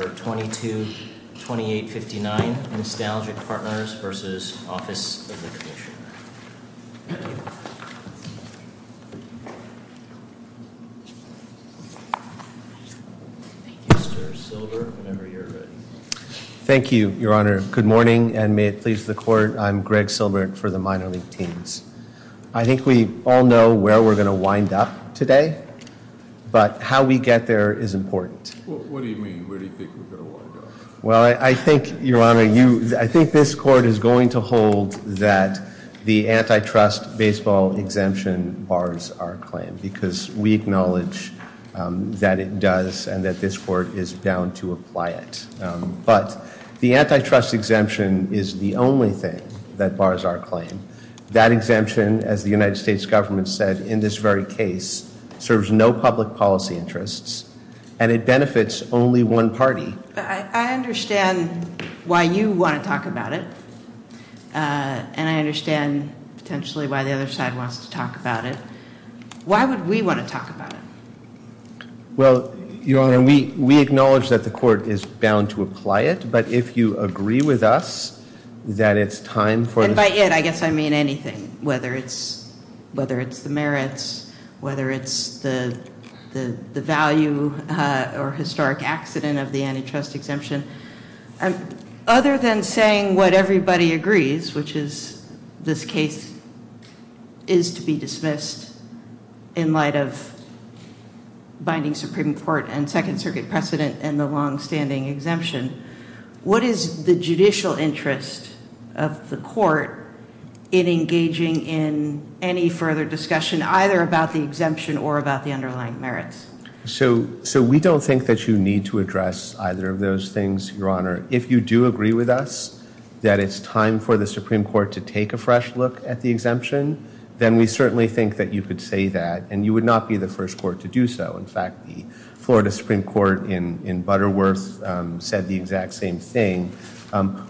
Number 222859, Nostalgic Partners v. Office of the Commissioner. Thank you. Thank you, Mr. Silbert, whenever you're ready. Thank you, Your Honor. Good morning, and may it please the Court, I'm Greg Silbert for the Minor League Teams. I think we all know where we're going to wind up today, but how we get there is important. What do you mean? Where do you think we're going to wind up? Well, I think, Your Honor, I think this Court is going to hold that the antitrust baseball exemption bars our claim because we acknowledge that it does and that this Court is bound to apply it. But the antitrust exemption is the only thing that bars our claim. That exemption, as the United States government said in this very case, serves no public policy interests and it benefits only one party. I understand why you want to talk about it, and I understand potentially why the other side wants to talk about it. Why would we want to talk about it? Well, Your Honor, we acknowledge that the Court is bound to apply it, but if you agree with us that it's time for... or historic accident of the antitrust exemption, other than saying what everybody agrees, which is this case is to be dismissed in light of binding Supreme Court and Second Circuit precedent and the longstanding exemption, what is the judicial interest of the Court in engaging in any further discussion either about the exemption or about the underlying merits? So we don't think that you need to address either of those things, Your Honor. If you do agree with us that it's time for the Supreme Court to take a fresh look at the exemption, then we certainly think that you could say that, and you would not be the first Court to do so. In fact, the Florida Supreme Court in Butterworth said the exact same thing.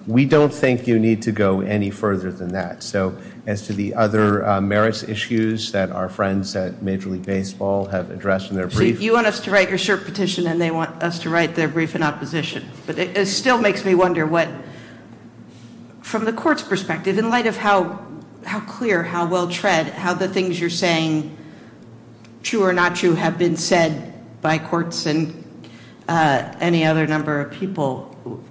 We don't think you need to go any further than that. So as to the other merits issues that our friends at Major League Baseball have addressed in their brief... So you want us to write your short petition, and they want us to write their brief in opposition. But it still makes me wonder what, from the Court's perspective, in light of how clear, how well-tread, how the things you're saying, true or not true, have been said by courts and any other number of people,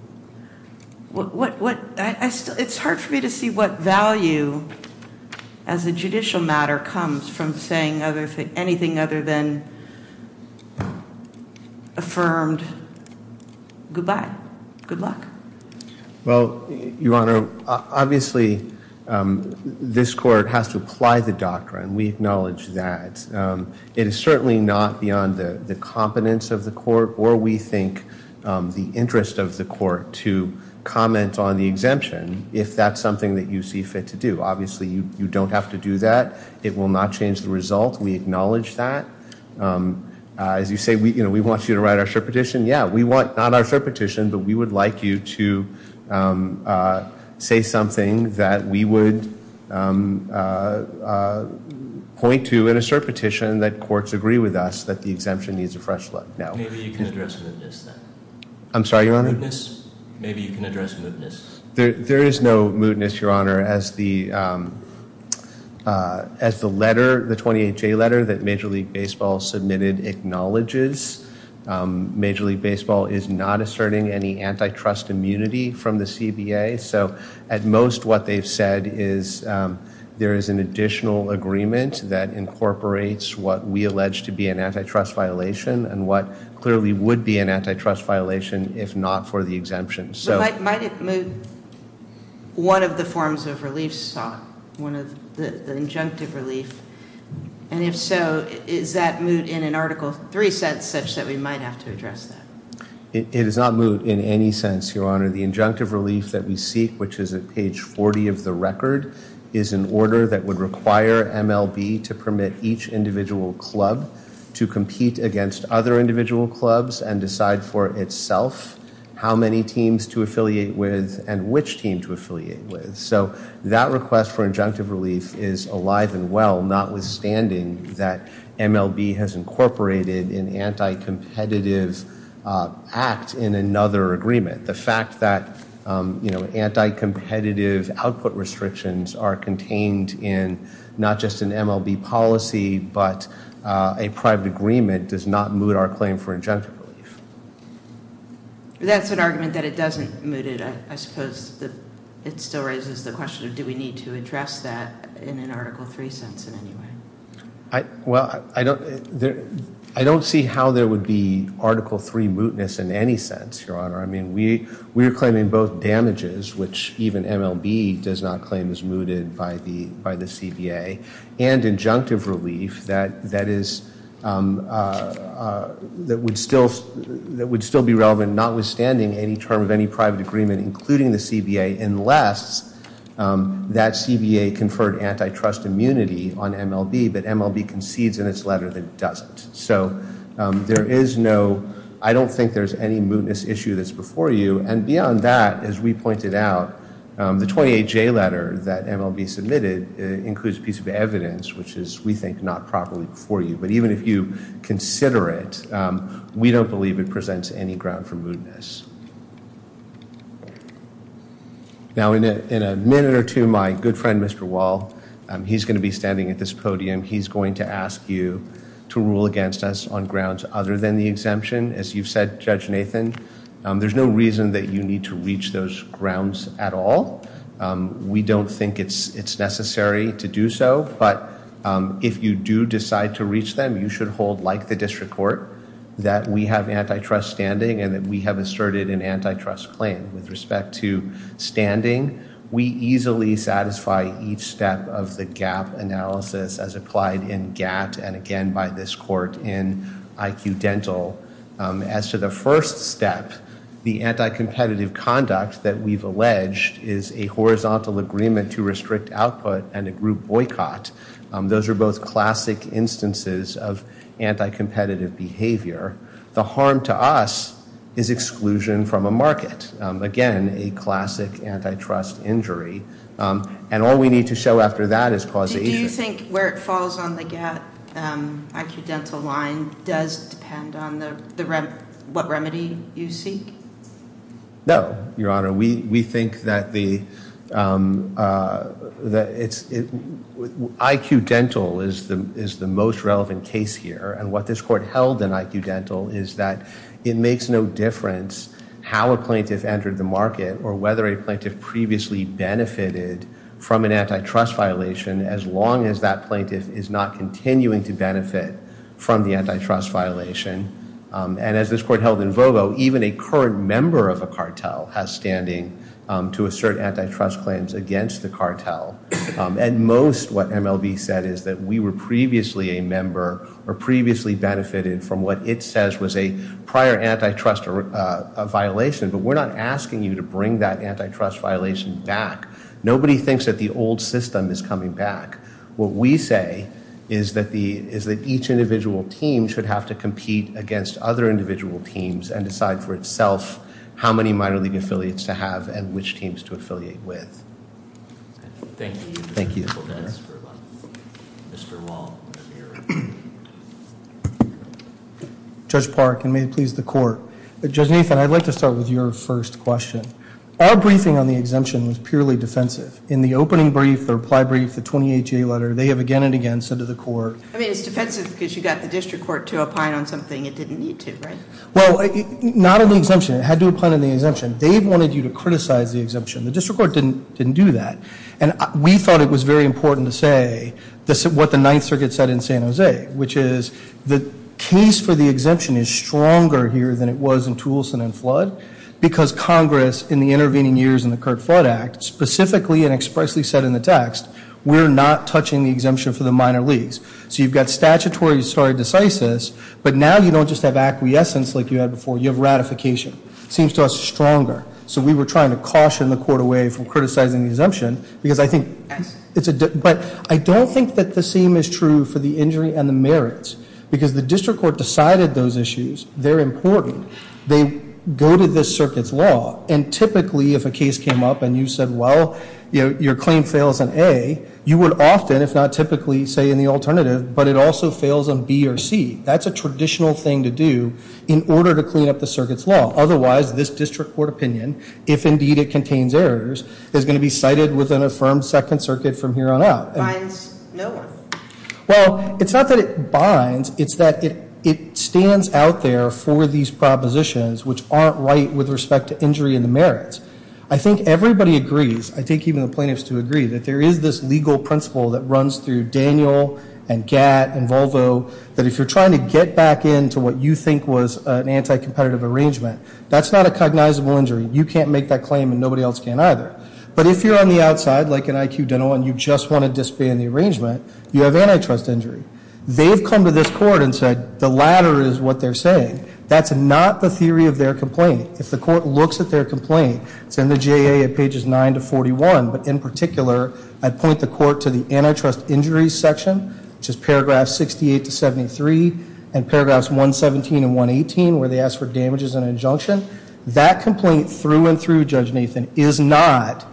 it's hard for me to see what value as a judicial matter comes from saying anything other than affirmed goodbye, good luck. Well, Your Honor, obviously this Court has to apply the doctrine. We acknowledge that. It is certainly not beyond the competence of the Court or, we think, the interest of the Court to comment on the exemption, if that's something that you see fit to do. Obviously, you don't have to do that. It will not change the result. We acknowledge that. As you say, we want you to write our short petition. Yeah, we want not our short petition, but we would like you to say something that we would point to in a short petition that courts agree with us that the exemption needs a fresh look. Maybe you can address mootness, then. I'm sorry, Your Honor? Maybe you can address mootness. There is no mootness, Your Honor. As the letter, the 28-J letter that Major League Baseball submitted acknowledges, Major League Baseball is not asserting any antitrust immunity from the CBA, so at most what they've said is there is an additional agreement that incorporates what we allege to be an antitrust violation and what clearly would be an antitrust violation if not for the exemption. But might it moot one of the forms of relief sought, one of the injunctive relief? And if so, is that moot in an Article III sense such that we might have to address that? It is not moot in any sense, Your Honor. The injunctive relief that we seek, which is at page 40 of the record, is an order that would require MLB to permit each individual club to compete against other individual clubs and decide for itself how many teams to affiliate with and which team to affiliate with. So that request for injunctive relief is alive and well, notwithstanding that MLB has incorporated an anti-competitive act in another agreement. The fact that anti-competitive output restrictions are contained in not just an MLB policy but a private agreement does not moot our claim for injunctive relief. That's an argument that it doesn't moot it. I suppose it still raises the question of do we need to address that in an Article III sense in any way? Well, I don't see how there would be Article III mootness in any sense, Your Honor. We are claiming both damages, which even MLB does not claim is mooted by the CBA, and injunctive relief that would still be relevant notwithstanding any term of any private agreement, including the CBA, unless that CBA conferred antitrust immunity on MLB but MLB concedes in its letter that it doesn't. So I don't think there's any mootness issue that's before you. And beyond that, as we pointed out, the 28J letter that MLB submitted includes a piece of evidence, which is, we think, not properly before you. But even if you consider it, we don't believe it presents any ground for mootness. Now, in a minute or two, my good friend, Mr. Wall, he's going to be standing at this podium. He's going to ask you to rule against us on grounds other than the exemption. As you've said, Judge Nathan, there's no reason that you need to reach those grounds at all. We don't think it's necessary to do so. But if you do decide to reach them, you should hold, like the district court, that we have antitrust standing and that we have asserted an antitrust claim. With respect to standing, we easily satisfy each step of the gap analysis as applied in GATT and, again, by this court in IQ Dental. As to the first step, the anticompetitive conduct that we've alleged is a horizontal agreement to restrict output and a group boycott. Those are both classic instances of anticompetitive behavior. The harm to us is exclusion from a market. Again, a classic antitrust injury. And all we need to show after that is causation. Do you think where it falls on the GATT IQ Dental line does depend on what remedy you seek? No, Your Honor. We think that IQ Dental is the most relevant case here. And what this court held in IQ Dental is that it makes no difference how a plaintiff entered the market or whether a plaintiff previously benefited from an antitrust violation as long as that plaintiff is not continuing to benefit from the antitrust violation. And as this court held in Vogo, even a current member of a cartel has standing to assert antitrust claims against the cartel. At most, what MLB said is that we were previously a member or previously benefited from what it says was a prior antitrust violation, but we're not asking you to bring that antitrust violation back. Nobody thinks that the old system is coming back. What we say is that each individual team should have to compete against other individual teams and decide for itself how many minor league affiliates to have and which teams to affiliate with. Thank you. Thank you. Mr. Wong. Judge Park, and may it please the court. Judge Nathan, I'd like to start with your first question. Our briefing on the exemption was purely defensive. In the opening brief, the reply brief, the 28-J letter, they have again and again said to the court. I mean, it's defensive because you got the district court to opine on something it didn't need to, right? Well, not on the exemption. It had to opine on the exemption. They wanted you to criticize the exemption. The district court didn't do that. And we thought it was very important to say what the Ninth Circuit said in San Jose, which is the case for the exemption is stronger here than it was in Toulson and Flood because Congress, in the intervening years in the Curt Flood Act, specifically and expressly said in the text, we're not touching the exemption for the minor leagues. So you've got statutory stare decisis, but now you don't just have acquiescence like you had before. You have ratification. It seems to us stronger. So we were trying to caution the court away from criticizing the exemption because I think it's a – but I don't think that the same is true for the injury and the merits because the district court decided those issues. They're important. They go to this circuit's law. And typically, if a case came up and you said, well, your claim fails on A, you would often, if not typically, say in the alternative, but it also fails on B or C. That's a traditional thing to do in order to clean up the circuit's law. Otherwise, this district court opinion, if indeed it contains errors, is going to be cited with an affirmed Second Circuit from here on out. Binds no one. Well, it's not that it binds. It's that it stands out there for these propositions, which aren't right with respect to injury and the merits. I think everybody agrees, I think even the plaintiffs do agree, that there is this legal principle that runs through Daniel and GATT and Volvo that if you're trying to get back into what you think was an anti-competitive arrangement, that's not a cognizable injury. You can't make that claim and nobody else can either. But if you're on the outside, like an IQ dental, and you just want to disband the arrangement, you have antitrust injury. They've come to this court and said the latter is what they're saying. That's not the theory of their complaint. If the court looks at their complaint, it's in the JA at pages 9 to 41, but in particular I'd point the court to the antitrust injuries section, which is paragraphs 68 to 73, and paragraphs 117 and 118, where they ask for damages and injunction. That complaint through and through, Judge Nathan, is not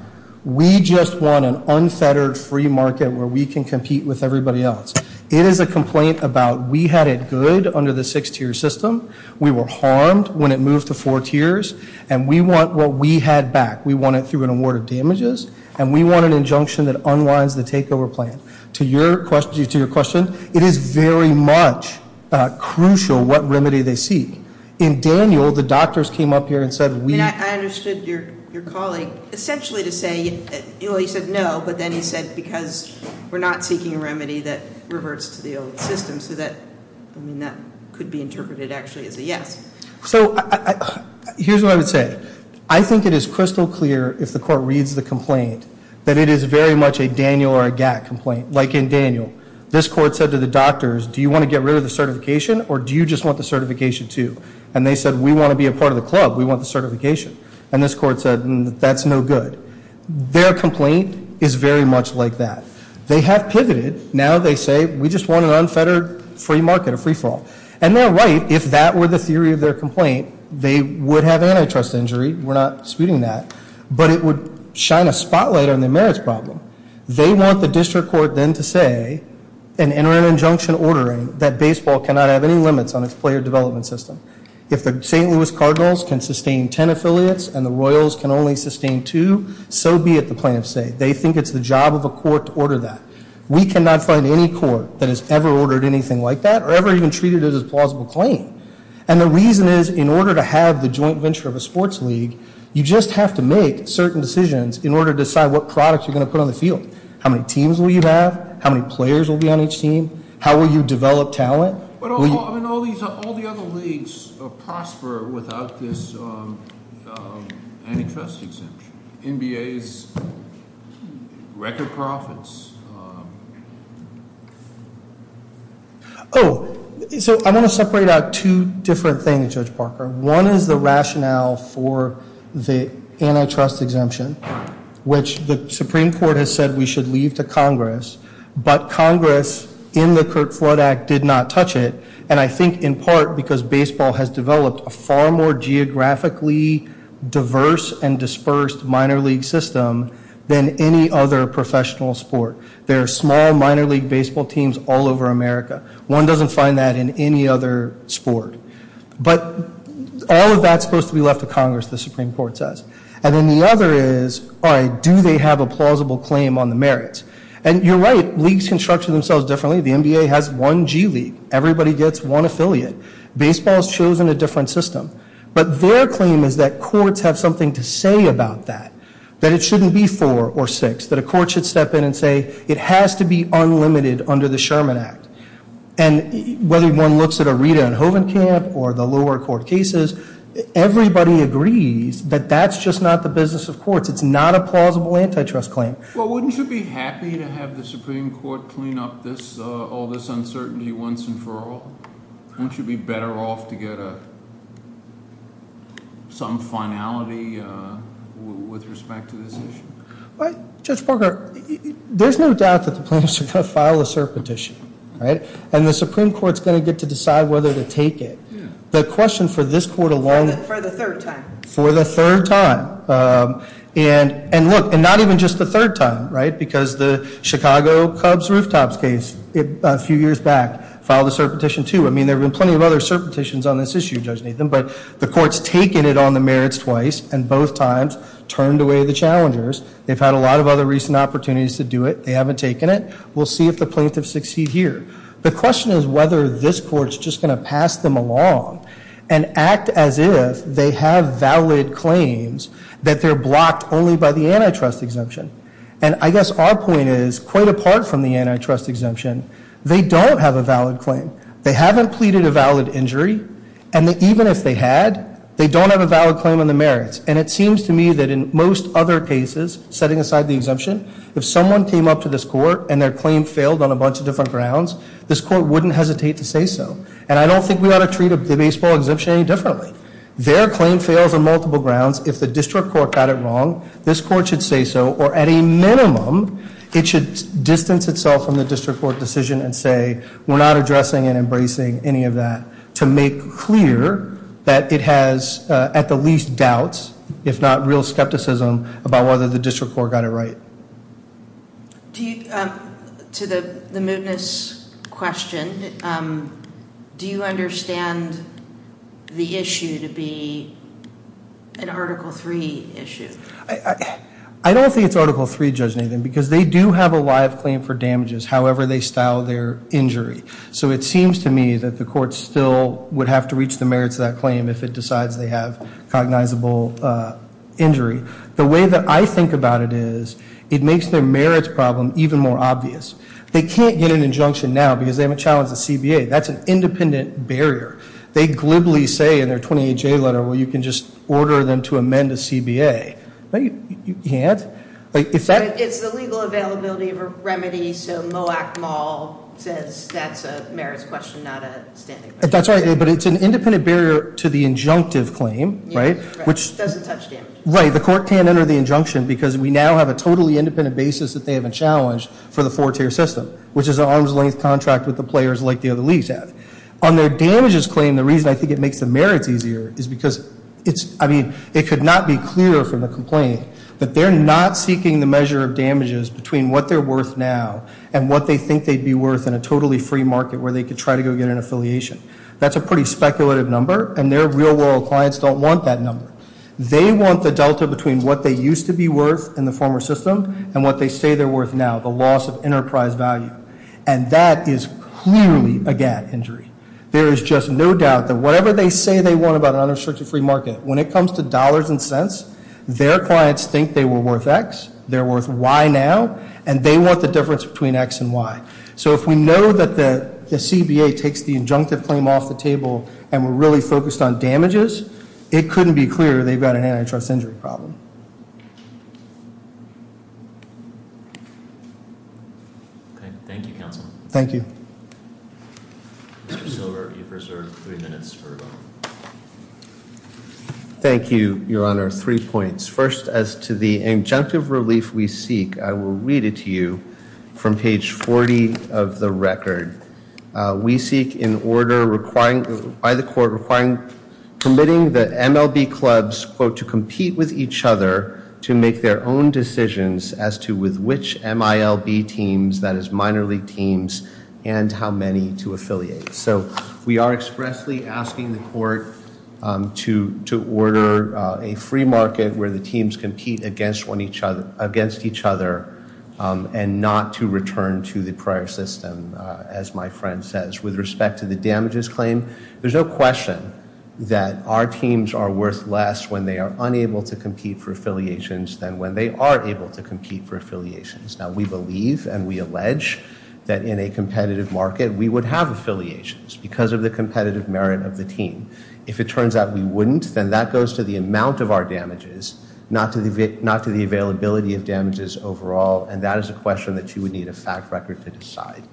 we just want an unfettered free market where we can compete with everybody else. It is a complaint about we had it good under the six-tier system, we were harmed when it moved to four tiers, and we want what we had back. We want it through an award of damages, and we want an injunction that unwinds the takeover plan. To your question, it is very much crucial what remedy they seek. In Daniel, the doctors came up here and said we – I understood your calling essentially to say, you know, he said no, but then he said because we're not seeking a remedy that reverts to the old system, so that could be interpreted actually as a yes. So here's what I would say. I think it is crystal clear if the court reads the complaint that it is very much a Daniel or a GATT complaint. Like in Daniel, this court said to the doctors, do you want to get rid of the certification or do you just want the certification too? And they said we want to be a part of the club. We want the certification. And this court said that's no good. Their complaint is very much like that. They have pivoted. Now they say we just want an unfettered free market, a free fall. And they're right. If that were the theory of their complaint, they would have antitrust injury. We're not disputing that. But it would shine a spotlight on the merits problem. They want the district court then to say and enter an injunction ordering that baseball cannot have any limits on its player development system. If the St. Louis Cardinals can sustain ten affiliates and the Royals can only sustain two, so be it, the plaintiffs say. They think it's the job of a court to order that. We cannot find any court that has ever ordered anything like that or ever even treated it as a plausible claim. And the reason is in order to have the joint venture of a sports league, you just have to make certain decisions in order to decide what products you're going to put on the field. How many teams will you have? How many players will be on each team? How will you develop talent? But all the other leagues prosper without this antitrust exemption. NBA's record profits. Oh, so I'm going to separate out two different things, Judge Parker. One is the rationale for the antitrust exemption, which the Supreme Court has said we should leave to Congress. But Congress in the Curt Flood Act did not touch it, and I think in part because baseball has developed a far more geographically diverse and dispersed minor league system than any other professional sport. There are small minor league baseball teams all over America. One doesn't find that in any other sport. But all of that's supposed to be left to Congress, the Supreme Court says. And then the other is, all right, do they have a plausible claim on the merits? And you're right, leagues can structure themselves differently. The NBA has one G League. Everybody gets one affiliate. Baseball has chosen a different system. But their claim is that courts have something to say about that, that it shouldn't be four or six, that a court should step in and say it has to be unlimited under the Sherman Act. And whether one looks at a Rita and Hoven camp or the lower court cases, everybody agrees that that's just not the business of courts. It's not a plausible antitrust claim. Well, wouldn't you be happy to have the Supreme Court clean up all this uncertainty once and for all? Wouldn't you be better off to get some finality with respect to this issue? Judge Parker, there's no doubt that the plaintiffs are going to file a cert petition, right? And the Supreme Court is going to get to decide whether to take it. The question for this court alone- For the third time. For the third time. And look, and not even just the third time, right? Because the Chicago Cubs rooftops case a few years back filed a cert petition, too. I mean, there have been plenty of other cert petitions on this issue, Judge Nathan. But the court's taken it on the merits twice and both times turned away the challengers. They've had a lot of other recent opportunities to do it. They haven't taken it. We'll see if the plaintiffs succeed here. The question is whether this court's just going to pass them along and act as if they have valid claims that they're blocked only by the antitrust exemption. And I guess our point is, quite apart from the antitrust exemption, they don't have a valid claim. They haven't pleaded a valid injury. And even if they had, they don't have a valid claim on the merits. And it seems to me that in most other cases, setting aside the exemption, if someone came up to this court and their claim failed on a bunch of different grounds, this court wouldn't hesitate to say so. And I don't think we ought to treat the baseball exemption any differently. Their claim fails on multiple grounds. If the district court got it wrong, this court should say so. Or at a minimum, it should distance itself from the district court decision and say, we're not addressing and embracing any of that to make clear that it has at the least doubts, if not real skepticism, about whether the district court got it right. To the mootness question, do you understand the issue to be an Article III issue? I don't think it's Article III, Judge Nathan, because they do have a live claim for damages, however they style their injury. So it seems to me that the court still would have to reach the merits of that claim if it decides they have cognizable injury. The way that I think about it is, it makes their merits problem even more obvious. They can't get an injunction now because they haven't challenged the CBA. That's an independent barrier. They glibly say in their 28-J letter, well, you can just order them to amend the CBA. You can't? It's the legal availability of a remedy. So Moak Mall says that's a merits question, not a standing question. That's right. But it's an independent barrier to the injunctive claim, right? It doesn't touch damage. Right. The court can't enter the injunction because we now have a totally independent basis that they haven't challenged for the four-tier system, which is an arm's length contract with the players like the other leagues have. On their damages claim, the reason I think it makes the merits easier is because it's, I mean, it could not be clearer from the complaint that they're not seeking the measure of damages between what they're worth now and what they think they'd be worth in a totally free market where they could try to go get an affiliation. That's a pretty speculative number, and their real-world clients don't want that number. They want the delta between what they used to be worth in the former system and what they say they're worth now, the loss of enterprise value. And that is clearly a GATT injury. There is just no doubt that whatever they say they want about an unrestricted free market, when it comes to dollars and cents, their clients think they were worth X, they're worth Y now, and they want the difference between X and Y. So if we know that the CBA takes the injunctive claim off the table and we're really focused on damages, it couldn't be clearer they've got an antitrust injury problem. Thank you. Thank you. Thank you, Your Honor. Three points. First, as to the injunctive relief we seek, I will read it to you from page 40 of the record. We seek in order by the court requiring, permitting the MLB clubs, quote, to compete with each other to make their own decisions as to with which MILB teams, that is minor league teams, and how many to affiliate. So we are expressly asking the court to order a free market where the teams compete against each other and not to return to the prior system, as my friend says. With respect to the damages claim, there's no question that our teams are worth less when they are unable to compete for affiliations than when they are able to compete for affiliations. Now, we believe and we allege that in a competitive market we would have affiliations because of the competitive merit of the team. If it turns out we wouldn't, then that goes to the amount of our damages, not to the availability of damages overall, and that is a question that you would need a fact record to decide.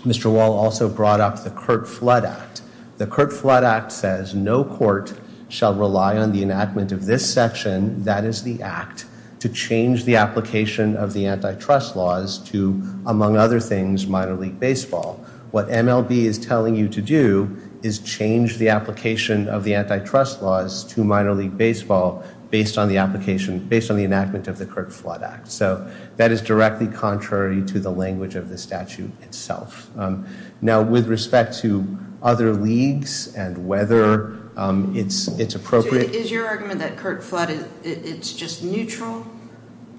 Mr. Wall also brought up the Curt Flood Act. The Curt Flood Act says no court shall rely on the enactment of this section, that is the act, to change the application of the antitrust laws to, among other things, minor league baseball. What MLB is telling you to do is change the application of the antitrust laws to minor league baseball based on the application, based on the enactment of the Curt Flood Act. So that is directly contrary to the language of the statute itself. Now, with respect to other leagues and whether it's appropriate... The Curt Flood, it's just neutral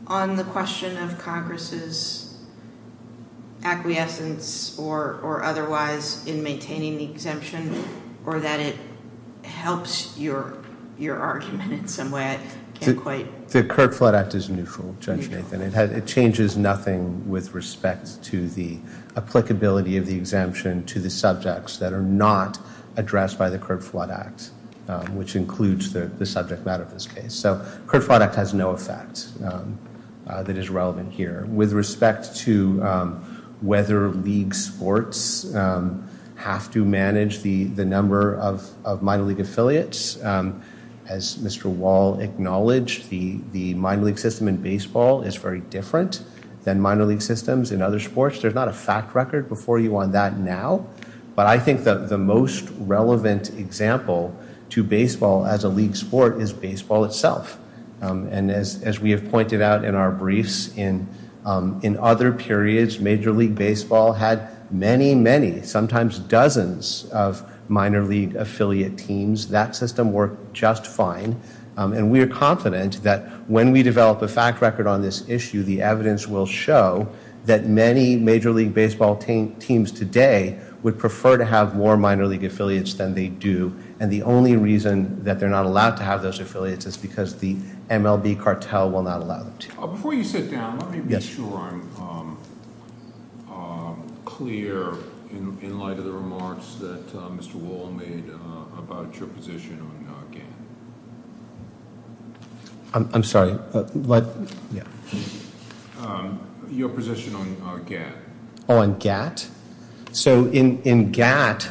on the question of Congress' acquiescence or otherwise in maintaining the exemption or that it helps your argument in some way? The Curt Flood Act is neutral, Judge Nathan. It changes nothing with respect to the applicability of the exemption to the subjects that are not addressed by the Curt Flood Act, which includes the subject matter of this case. So Curt Flood Act has no effect that is relevant here. With respect to whether league sports have to manage the number of minor league affiliates, as Mr. Wall acknowledged, the minor league system in baseball is very different than minor league systems in other sports. There's not a fact record before you on that now. But I think that the most relevant example to baseball as a league sport is baseball itself. And as we have pointed out in our briefs in other periods, major league baseball had many, many, sometimes dozens of minor league affiliate teams. That system worked just fine. And we are confident that when we develop a fact record on this issue, the evidence will show that many major league baseball teams today would prefer to have more minor league affiliates than they do. And the only reason that they're not allowed to have those affiliates is because the MLB cartel will not allow them to. Before you sit down, let me be sure I'm clear in light of the remarks that Mr. Wall made about your position on GAN. I'm sorry. Your position on GAT. On GAT? So in GAT,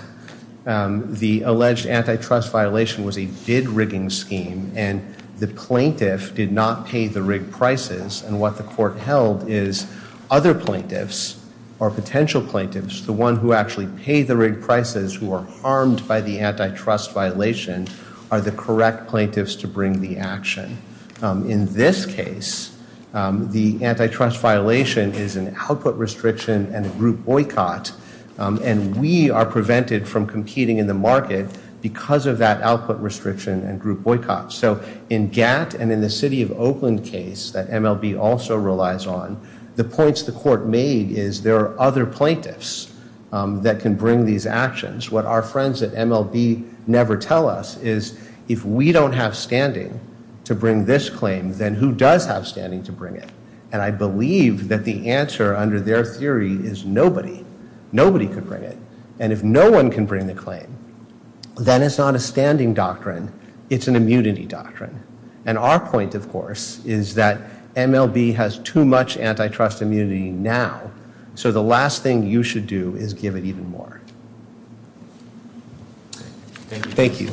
the alleged antitrust violation was a bid rigging scheme, and the plaintiff did not pay the rig prices. And what the court held is other plaintiffs or potential plaintiffs, the one who actually paid the rig prices who are harmed by the antitrust violation, are the correct plaintiffs to bring the action. In this case, the antitrust violation is an output restriction and a group boycott, and we are prevented from competing in the market because of that output restriction and group boycott. So in GAT and in the city of Oakland case that MLB also relies on, the points the court made is there are other plaintiffs that can bring these actions. What our friends at MLB never tell us is if we don't have standing to bring this claim, then who does have standing to bring it? And I believe that the answer under their theory is nobody. Nobody could bring it. And if no one can bring the claim, then it's not a standing doctrine. It's an immunity doctrine. And our point, of course, is that MLB has too much antitrust immunity now, so the last thing you should do is give it even more. Thank you.